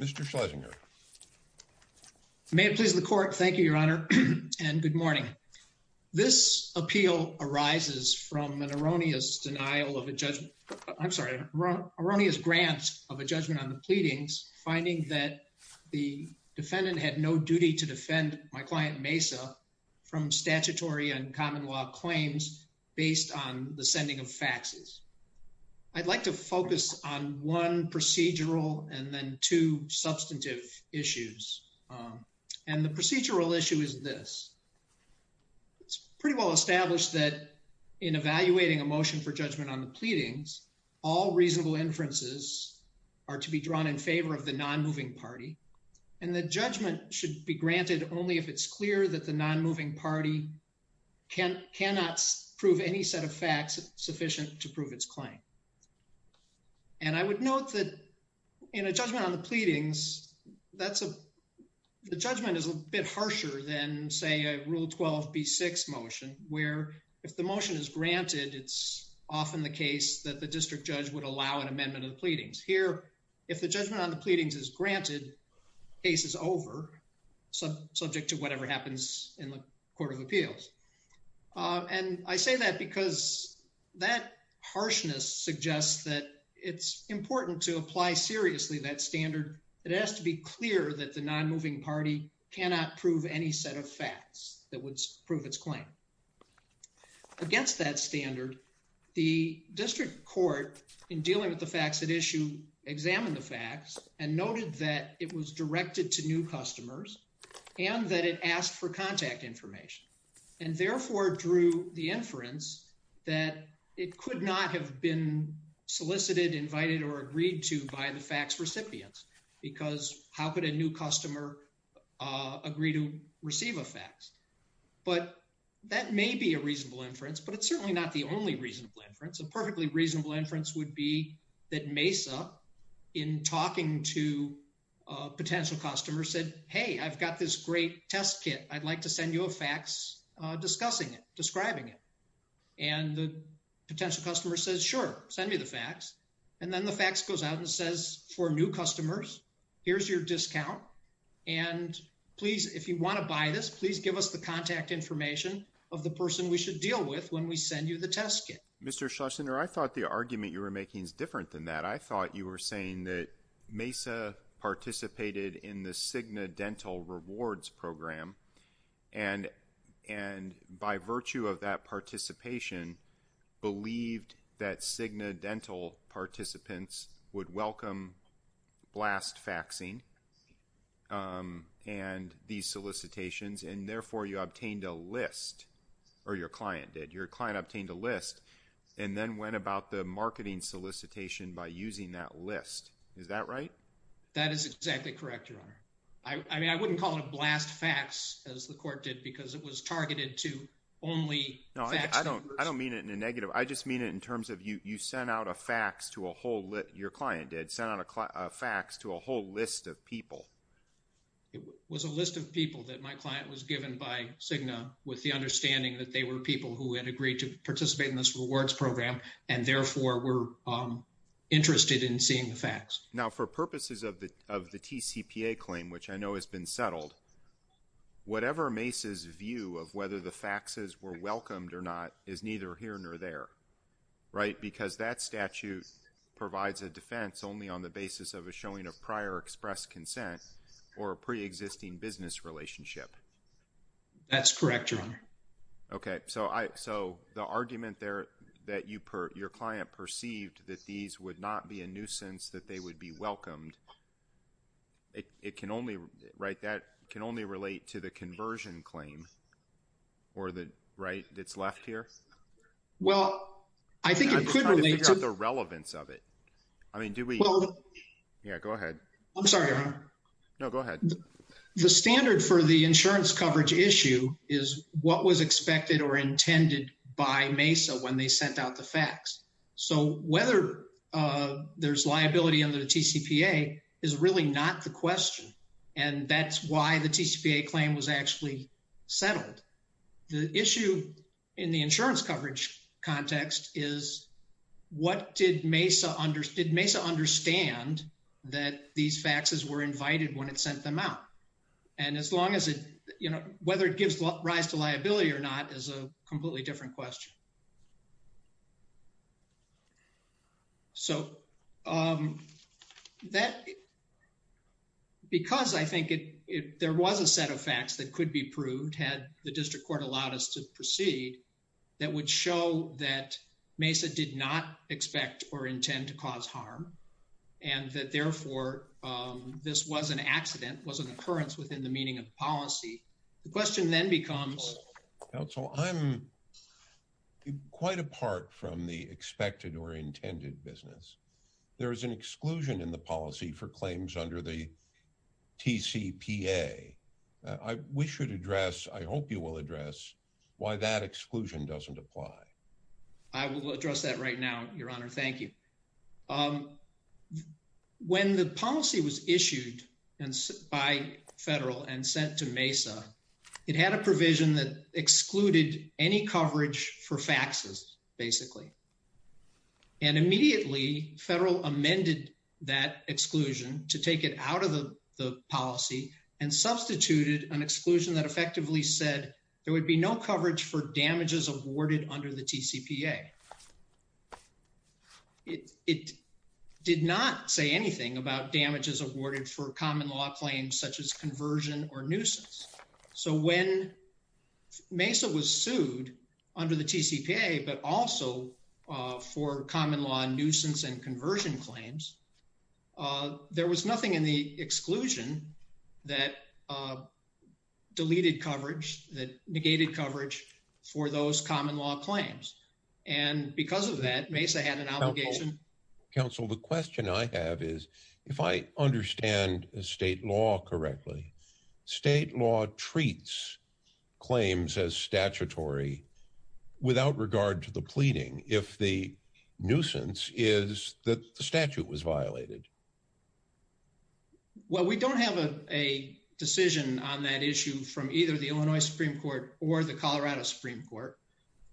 Mr. Schlesinger. May it please the Court, thank you, Your Honor, and good morning. This appeal arises from an erroneous denial of a judgment, I'm sorry, erroneous grant of a judgment on the pleadings, finding that the defendant had no duty to defend my client Mesa from statutory and common law claims based on the sending of faxes. I'd like to focus on one procedural and then two substantive issues, and the procedural issue is this, it's pretty well established that in evaluating a motion for judgment on the pleadings, all reasonable inferences are to be drawn in favor of the non-moving party, and the judgment should be granted only if it's clear that the non-moving party cannot prove any set of facts sufficient to prove its claim. And I would note that in a judgment on the pleadings, that's a, the judgment is a bit harsher than, say, a Rule 12b6 motion, where if the motion is granted, it's often the case that the district judge would allow an amendment of the pleadings. Here, if the judgment on the pleadings is granted, case is over, subject to whatever happens in the Court of Appeals, and I say that because that harshness suggests that it's important to apply seriously that standard, it has to be clear that the non-moving party cannot prove any set of facts that would prove its claim. Against that standard, the district court, in dealing with the facts at issue, examined the facts and noted that it was directed to new customers, and that it asked for contact information, and therefore drew the inference that it could not have been solicited, invited, or agreed to by the facts recipients, because how could a new customer agree to receive a fax? But that may be a reasonable inference, but it's certainly not the only reasonable inference. A perfectly reasonable inference would be that Mesa, in talking to a potential customer, said, hey, I've got this great test kit, I'd like to send you a fax discussing it, describing it, and the potential customer says, sure, send me the fax, and then the fax goes out and says, for new customers, here's your discount, and please, if you want to buy this, please give us the contact information of the person we should deal with when we send you the test kit. Mr. Schlesinger, I thought the argument you were making is different than that. I thought you were saying that Mesa participated in the Cigna Dental Rewards Program, and by virtue of that participation, believed that Cigna Dental participants would welcome blast faxing and these solicitations, and therefore, you obtained a list, or your client did. Your client obtained a list, and then went about the marketing solicitation by using that list. Is that right? That is exactly correct, Your Honor. I mean, I wouldn't call it blast fax, as the court did, because it was targeted to only faxed. No, I don't mean it in a negative. I just mean it in terms of you sent out a fax to a whole list, your client did, sent out a fax to a whole list of people. It was a list of people that my client was given by Cigna, with the understanding that they were people who had agreed to participate in this rewards program, and therefore, were interested in seeing the fax. Now, for purposes of the TCPA claim, which I know has been settled, whatever Mace's view of whether the faxes were welcomed or not is neither here nor there, right? Because that statute provides a defense only on the basis of a showing of prior expressed consent or a pre-existing business relationship. That's correct, Your Honor. Okay, so the argument there that your client perceived that these would not be a nuisance, that they would be welcomed, it can only, right, that can only relate to the conversion claim, or the right that's left here? Well, I think it could relate to... I'm just trying to figure out the relevance of it. I mean, do we... Yeah, go ahead. I'm sorry, Your Honor. No, go ahead. The standard for the insurance coverage issue is what was expected or intended by Mesa when they sent out the fax. So, whether there's liability under the TCPA is really not the question. And that's why the TCPA claim was actually settled. The issue in the insurance coverage context is what did Mesa understand that these faxes were invited when it sent them out? And as long as it, you know, whether it gives rise to liability or not is a completely different question. So, that, because I think it, there was a set of facts that could be proved had the district court allowed us to proceed, that would show that Mesa did not expect or intend to cause harm, and that therefore, this was an accident, was an occurrence within the meaning of policy. The question then becomes... Well, I'm quite apart from the expected or intended business. There is an exclusion in the policy for claims under the TCPA. We should address, I hope you will address, why that exclusion doesn't apply. I will address that right now, Your Honor. Thank you. When the policy was issued by federal and sent to Mesa, it had a provision that excluded any coverage for faxes, basically. And immediately, federal amended that exclusion to take it out of the policy and substituted an exclusion that effectively said there would be no coverage for damages awarded under the TCPA. It did not say anything about damages awarded for common law claims, such as conversion or nuisance. So, when Mesa was sued under the TCPA, but also for common law nuisance and conversion claims, there was nothing in the exclusion that deleted coverage, that negated coverage for those common law claims. And because of that, Mesa had an obligation... Counsel, the question I have is, if I understand state law correctly, state law treats claims as statutory without regard to the pleading, if the nuisance is that the statute was violated. Well, we don't have a decision on that issue from either the Illinois Supreme Court or the Colorado Supreme Court.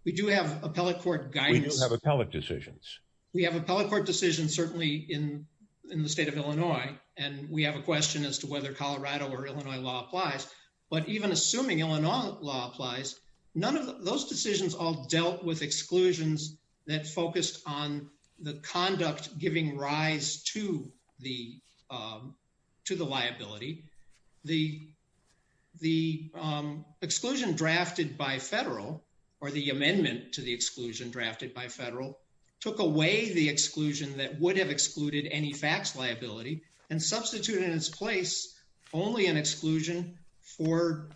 We do have appellate court guidance. We do have appellate decisions. We have appellate court decisions, certainly in the state of Illinois, and we have a question as to whether Colorado or Illinois law applies. But even assuming Illinois law applies, none of those decisions all dealt with exclusions that focused on the conduct giving rise to the liability. The exclusion drafted by federal, or the amendment to the exclusion drafted by federal, took away the exclusion that would have excluded any fax liability and substituted in its place only an exclusion for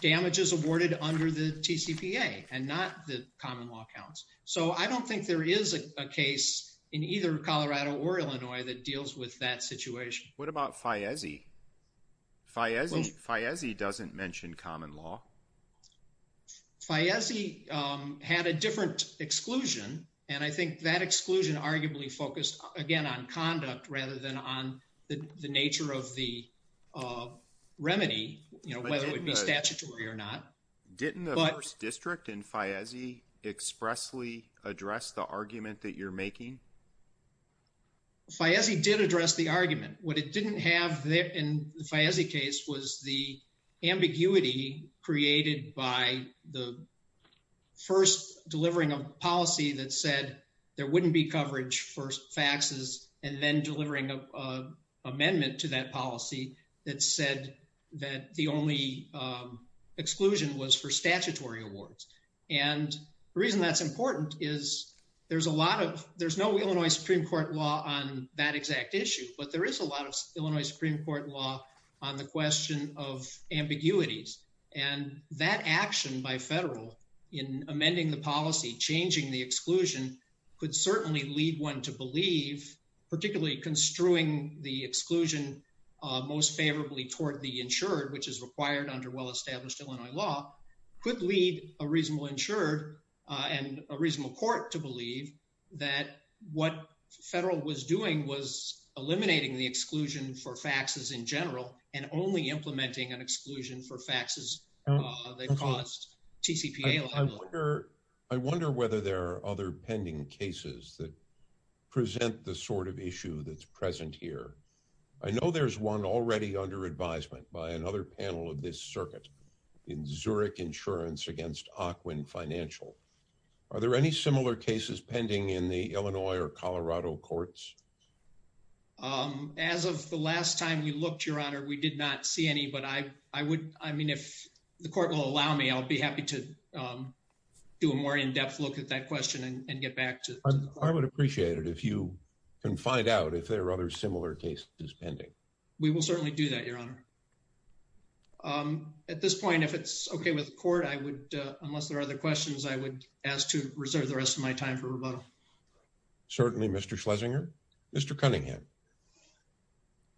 damages awarded under the TCPA and not the common law counts. So I don't think there is a case in either Colorado or Illinois that deals with that situation. What about FIESE? FIESE doesn't mention common law. FIESE had a different exclusion, and I think that exclusion arguably focused, again, on conduct rather than on the nature of the remedy, whether it would be statutory or not. Didn't the first district in FIESE expressly address the argument that you're making? FIESE did address the argument. What it didn't have in the FIESE case was the ambiguity created by the first delivering a policy that said there wouldn't be coverage for faxes and then delivering an amendment to that policy that said that the only exclusion was for statutory awards. And the reason that's important is there's a lot of, there's no Illinois Supreme Court law on that exact issue, but there is a lot of Illinois Supreme Court law on the question of ambiguities. And that action by federal in amending the policy, changing the exclusion could certainly lead one to believe, particularly construing the exclusion most favorably toward the insured, which is required under well-established Illinois law, could lead a reasonable insured and a What the federal was doing was eliminating the exclusion for faxes in general and only implementing an exclusion for faxes that cost TCPA. I wonder whether there are other pending cases that present the sort of issue that's present here. I know there's one already under advisement by another panel of this circuit in Zurich insurance against Ocwen financial. Are there any similar cases pending in the Illinois or Colorado courts? As of the last time we looked, your honor, we did not see any, but I, I would, I mean, if the court will allow me, I'll be happy to do a more in-depth look at that question and get back to, I would appreciate it if you can find out if there are other similar cases pending. We will certainly do that, your honor. At this point, if it's okay with the court, I would, unless there are other questions, I would ask to reserve the rest of my time for rebuttal. Certainly Mr. Schlesinger, Mr. Cunningham.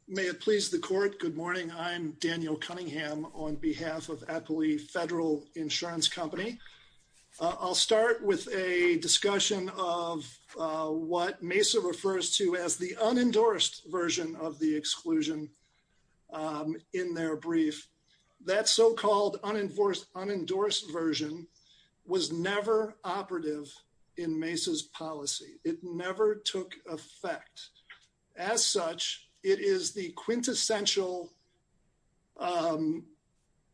May it please the court. Good morning. I'm Daniel Cunningham on behalf of Appley Federal Insurance Company. I'll start with a discussion of what Mesa refers to as the unendorsed version of the exclusion in their brief. That so-called unendorsed version was never operative in Mesa's policy. It never took effect. As such, it is the quintessential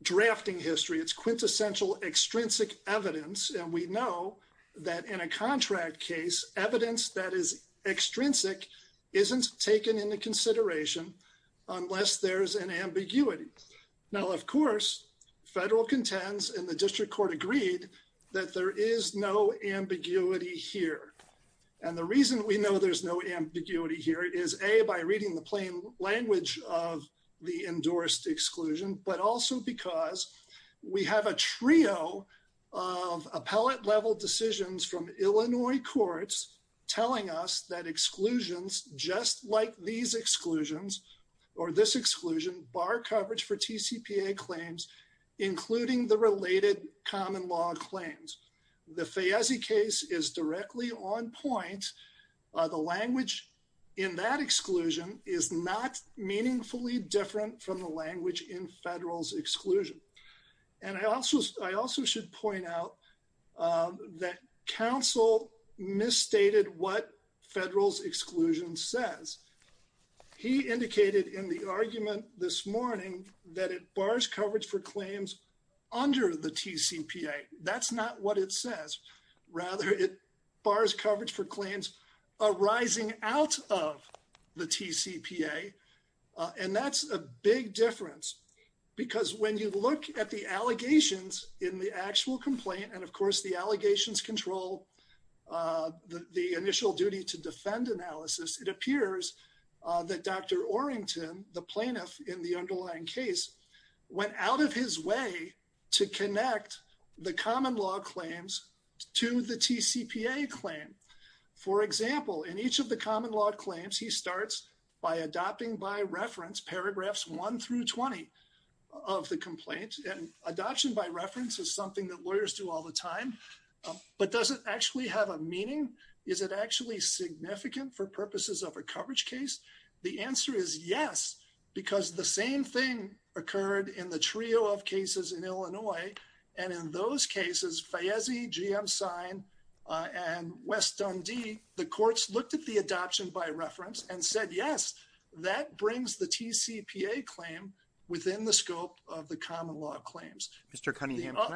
drafting history. It's quintessential extrinsic evidence, and we know that in a contract case, evidence that is extrinsic isn't taken into consideration unless there's an ambiguity. Now, of course, federal contends and the district court agreed that there is no ambiguity here. And the reason we know there's no ambiguity here is A, by reading the plain language of the endorsed exclusion, but also because we have a trio of appellate level decisions from telling us that exclusions just like these exclusions or this exclusion bar coverage for TCPA claims, including the related common law claims. The Fayese case is directly on point. The language in that exclusion is not meaningfully different from the language in federal's exclusion. And I also should point out that counsel misstated what federal's exclusion says. He indicated in the argument this morning that it bars coverage for claims under the TCPA. That's not what it says. Rather, it bars coverage for claims arising out of the TCPA, and that's a big difference because when you look at the allegations in the actual complaint, and of course the allegations control the initial duty to defend analysis, it appears that Dr. Orrington, the plaintiff in the underlying case, went out of his way to connect the common law claims to the TCPA claim. For example, in each of the common law claims, he starts by adopting by reference paragraphs one through 20 of the complaint. Adoption by reference is something that lawyers do all the time, but does it actually have a meaning? Is it actually significant for purposes of a coverage case? The answer is yes, because the same thing occurred in the trio of cases in Illinois, and in those cases, Fayese, G.M. Sine, and West Dundee, the courts looked at the adoption by reference and said, yes, that brings the TCPA claim within the scope of the common law claims. Mr. Cunningham, can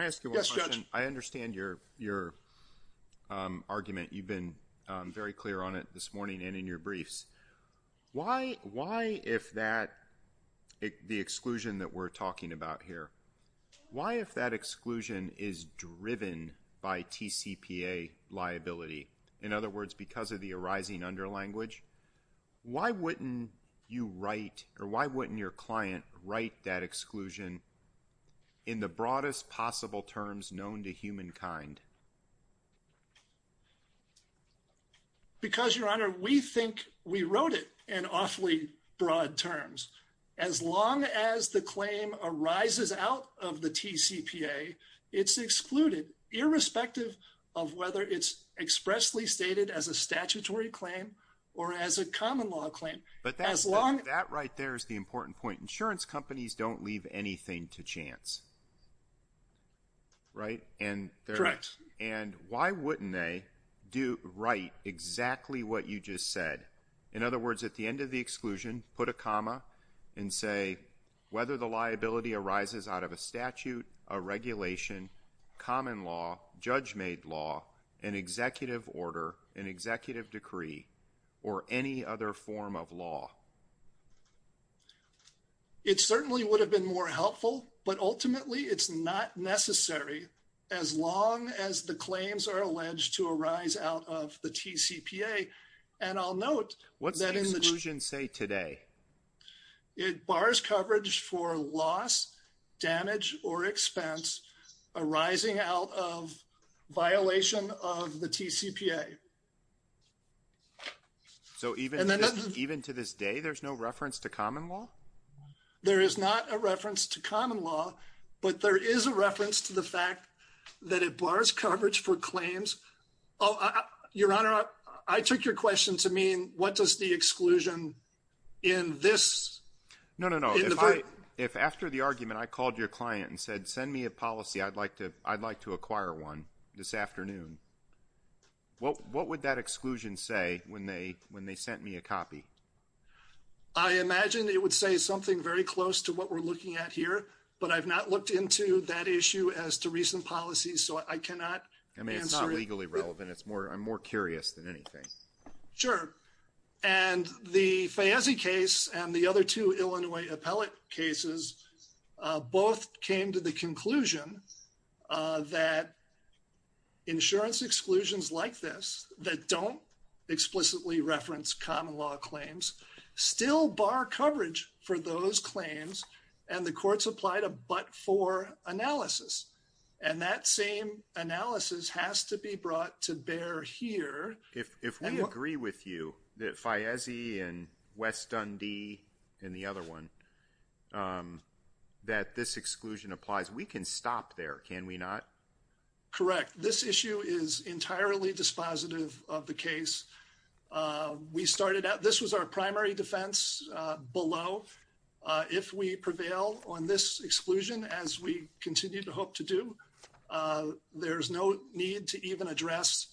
I ask you one question? I understand your argument. You've been very clear on it this morning and in your briefs. Why if that, the exclusion that we're talking about here, why if that exclusion is driven by TCPA liability? In other words, because of the arising under language, why wouldn't you write or why wouldn't your client write that exclusion in the broadest possible terms known to humankind? Because Your Honor, we think we wrote it in awfully broad terms. As long as the claim arises out of the TCPA, it's excluded irrespective of whether it's expressly stated as a statutory claim or as a common law claim. But that right there is the important point. Insurance companies don't leave anything to chance, right? Correct. And why wouldn't they write exactly what you just said? In other words, at the end of the exclusion, put a comma and say whether the liability an executive decree or any other form of law. It certainly would have been more helpful, but ultimately it's not necessary as long as the claims are alleged to arise out of the TCPA. And I'll note that in the exclusion say today, it bars coverage for loss, damage or expense arising out of violation of the TCPA. So even to this day, there's no reference to common law? There is not a reference to common law, but there is a reference to the fact that it bars coverage for claims. Oh, Your Honor, I took your question to mean, what does the exclusion in this? No, no, no. If after the argument, I called your client and said, send me a policy, I'd like to acquire one this afternoon. What would that exclusion say when they sent me a copy? I imagine it would say something very close to what we're looking at here, but I've not looked into that issue as to recent policies. So I cannot. I mean, it's not legally relevant. It's more I'm more curious than anything. Sure. And the Fayese case and the other two Illinois appellate cases both came to the conclusion that insurance exclusions like this that don't explicitly reference common law claims still bar coverage for those claims. And the courts applied a but for analysis. And that same analysis has to be brought to bear here. If we agree with you that Fayese and West Dundee and the other one that this exclusion applies, we can stop there, can we not? Correct. This issue is entirely dispositive of the case. We started out this was our primary defense below. If we prevail on this exclusion, as we continue to hope to do, there's no need to even address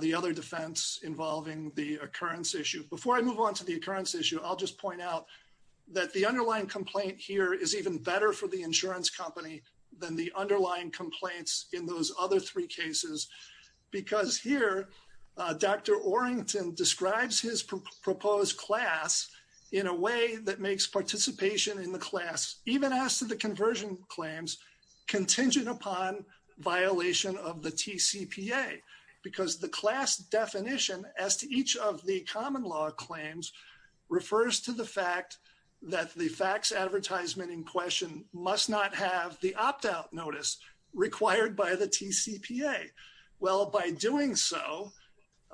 the other defense involving the occurrence issue. Before I move on to the occurrence issue, I'll just point out that the underlying complaint here is even better for the insurance company than the underlying complaints in those other three cases, because here Dr. Orrington describes his proposed class in a way that makes participation in the class, even as to the conversion claims, contingent upon violation of the TCPA. Because the class definition as to each of the common law claims refers to the fact that the fax advertisement in question must not have the opt-out notice required by the TCPA. Well, by doing so,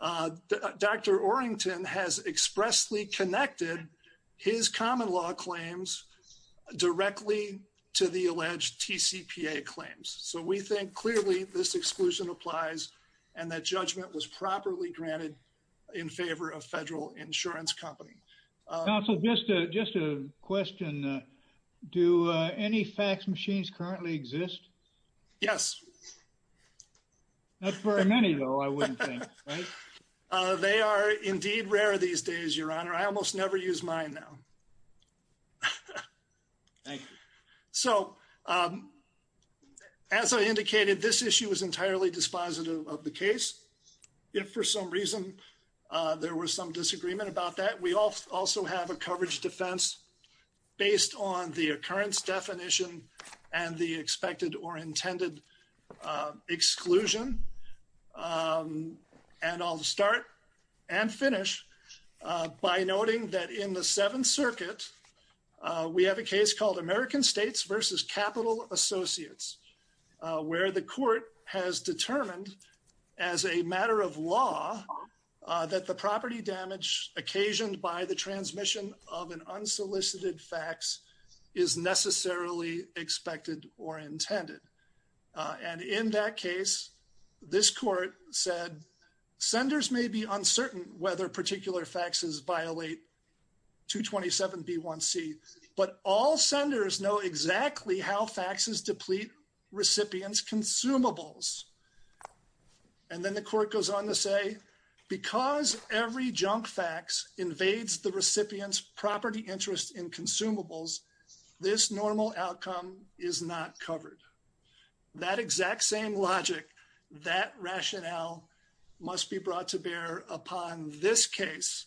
Dr. Orrington has expressly connected his common law claims directly to the alleged TCPA claims. So we think clearly this exclusion applies and that judgment was properly granted in favor of federal insurance company. Counsel, just a question. Do any fax machines currently exist? Yes. Not very many though, I wouldn't think, right? They are indeed rare these days, Your Honor. I almost never use mine now. Thank you. So as I indicated, this issue is entirely dispositive of the case. If for some reason there was some disagreement about that, we also have a coverage defense based on the occurrence definition and the expected or intended exclusion. And I'll start and finish by noting that in the Seventh Circuit, we have a case called American States versus Capital Associates, where the court has determined as a matter of law that the property damage occasioned by the transmission of an unsolicited fax is necessarily expected or intended. And in that case, this court said, senders may be uncertain whether particular faxes violate 227B1C, but all senders know exactly how faxes deplete recipients consumables. And then the court goes on to say, because every junk fax invades the recipient's property interest in consumables, this normal outcome is not covered. That exact same logic, that rationale must be brought to bear upon this case.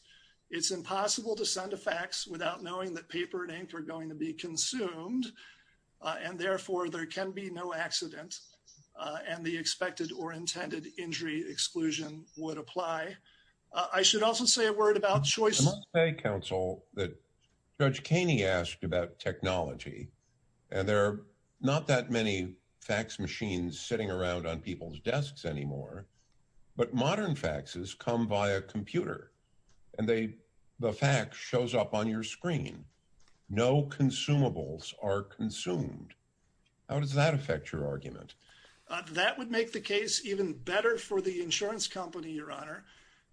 It's impossible to send a fax without knowing that paper and ink are going to be consumed, and therefore, there can be no accident and the expected or intended injury exclusion would apply. I should also say a word about choice. I must say, counsel, that Judge Kaney asked about technology, and there are not that many fax machines sitting around on people's desks anymore, but modern faxes come via computer and the fax shows up on your screen. No consumables are consumed. How does that affect your argument? That would make the case even better for the insurance company, Your Honor,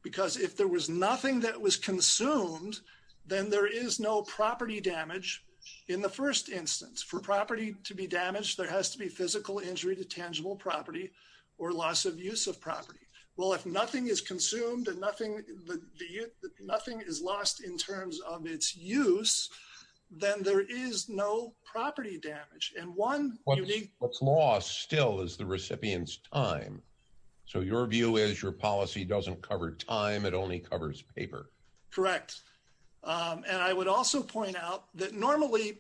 because if there was nothing that was consumed, then there is no property damage in the first instance. For property to be damaged, there has to be physical injury to tangible property or loss of use of property. Well, if nothing is consumed and nothing is lost in terms of its use, then there is no property damage. And one unique... What's lost still is the recipient's time. So your view is your policy doesn't cover time, it only covers paper. Correct. And I would also point out that normally,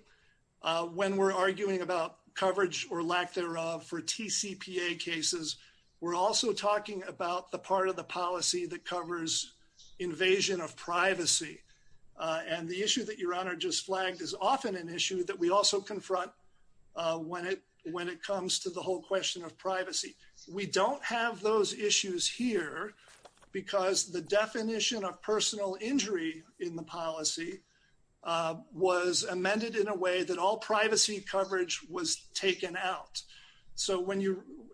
when we're arguing about coverage or lack thereof for TCPA cases, we're also talking about the part of the policy that covers invasion of privacy. And the issue that Your Honor just flagged is often an issue that we also confront when it comes to the whole question of privacy. We don't have those issues here because the definition of personal injury in the policy was amended in a way that all privacy coverage was taken out. So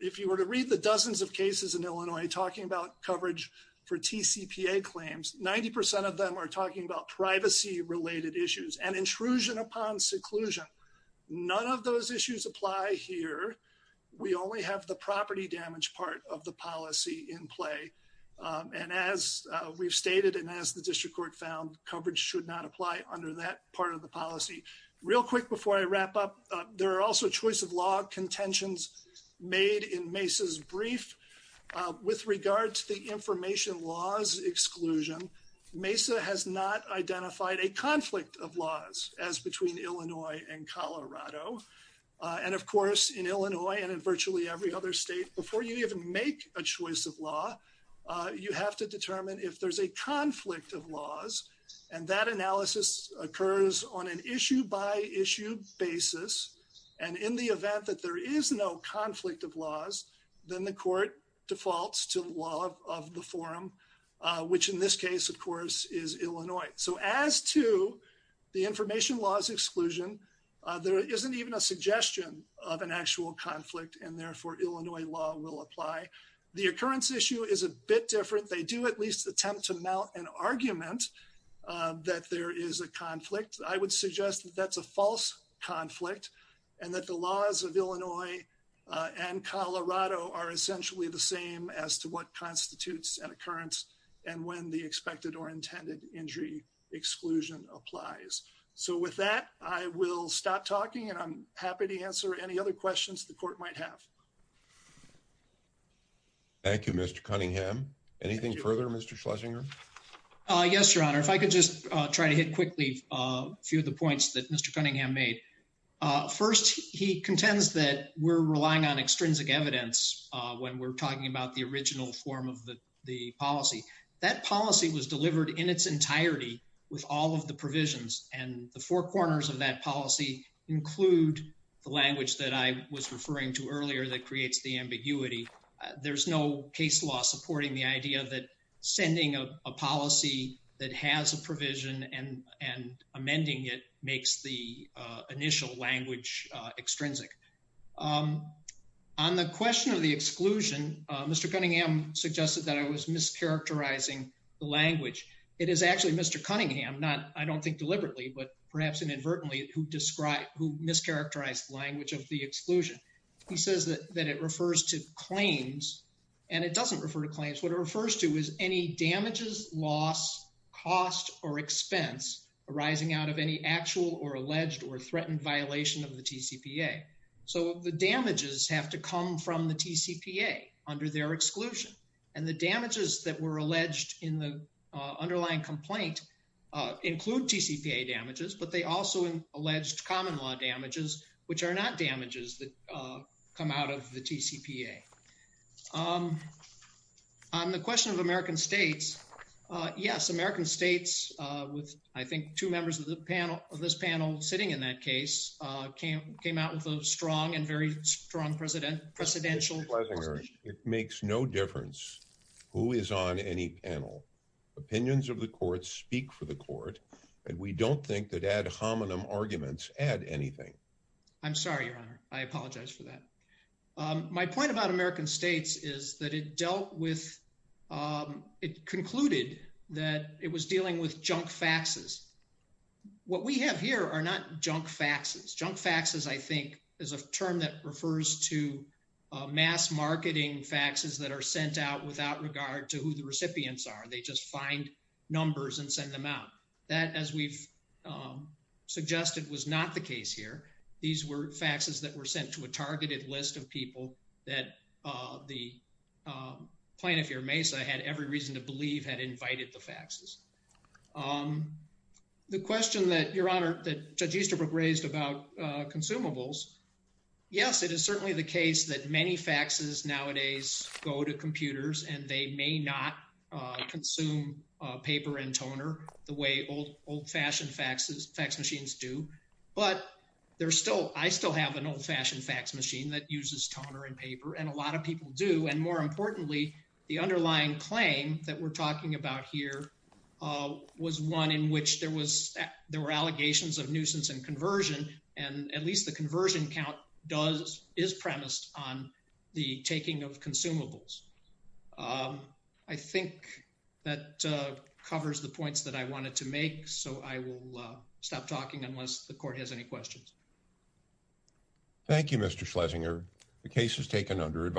if you were to read the dozens of cases in Illinois talking about coverage for TCPA claims, 90% of them are talking about privacy-related issues and intrusion upon seclusion. None of those issues apply here. We only have the property damage part of the policy in play. And as we've stated and as the district court found, coverage should not apply under that part of the policy. Real quick before I wrap up, there are also choice of law contentions made in Mesa's brief. With regard to the information laws exclusion, Mesa has not identified a conflict of laws as between Illinois and Colorado. And of course, in Illinois and in virtually every other state, before you even make a decision, you have to determine if there's a conflict of laws. And that analysis occurs on an issue-by-issue basis. And in the event that there is no conflict of laws, then the court defaults to the law of the forum, which in this case, of course, is Illinois. So as to the information laws exclusion, there isn't even a suggestion of an actual conflict and therefore Illinois law will apply. The occurrence issue is a bit different. They do at least attempt to mount an argument that there is a conflict. I would suggest that's a false conflict and that the laws of Illinois and Colorado are essentially the same as to what constitutes an occurrence and when the expected or intended injury exclusion applies. So with that, I will stop talking and I'm happy to answer any other questions the court might have. Thank you, Mr. Cunningham. Anything further, Mr. Schlesinger? Yes, Your Honor. If I could just try to hit quickly a few of the points that Mr. Cunningham made. First, he contends that we're relying on extrinsic evidence when we're talking about the original form of the policy. That policy was delivered in its entirety with all of the provisions and the four corners of that policy include the language that I was referring to earlier that creates the ambiguity. There's no case law supporting the idea that sending a policy that has a provision and amending it makes the initial language extrinsic. On the question of the exclusion, Mr. Cunningham suggested that I was mischaracterizing the language. It is actually Mr. Cunningham, I don't think deliberately, but perhaps inadvertently, who mischaracterized the language of the exclusion. He says that it refers to claims and it doesn't refer to claims. What it refers to is any damages, loss, cost, or expense arising out of any actual or alleged or threatened violation of the TCPA. So the damages have to come from the TCPA under their exclusion and the damages that were alleged in the underlying complaint include TCPA damages, but they also alleged common law damages, which are not damages that come out of the TCPA. On the question of American states, yes, American states with, I think, two members of the panel of this panel sitting in that case came out with a strong and very strong presidential position. It makes no difference who is on any panel. Opinions of the courts speak for the court and we don't think that ad hominem arguments add anything. I'm sorry, Your Honor, I apologize for that. My point about American states is that it dealt with, it concluded that it was dealing with junk faxes. What we have here are not junk faxes. Junk faxes, I think, is a term that refers to mass marketing faxes that are sent out without regard to who the recipients are. They just find numbers and send them out. That as we've suggested was not the case here. These were faxes that were sent to a targeted list of people that the plaintiff here, Mesa, had every reason to believe had invited the faxes. The question that, Your Honor, that Judge Easterbrook raised about consumables, yes, it is certainly the case that many faxes nowadays go to computers and they may not consume paper and toner the way old-fashioned fax machines do. But I still have an old-fashioned fax machine that uses toner and paper and a lot of people do. And more importantly, the underlying claim that we're talking about here was one in which there were allegations of nuisance and conversion, and at least the conversion count is premised on the taking of consumables. I think that covers the points that I wanted to make, so I will stop talking unless the court has any questions. Thank you, Mr. Schlesinger. The case is taken under advice.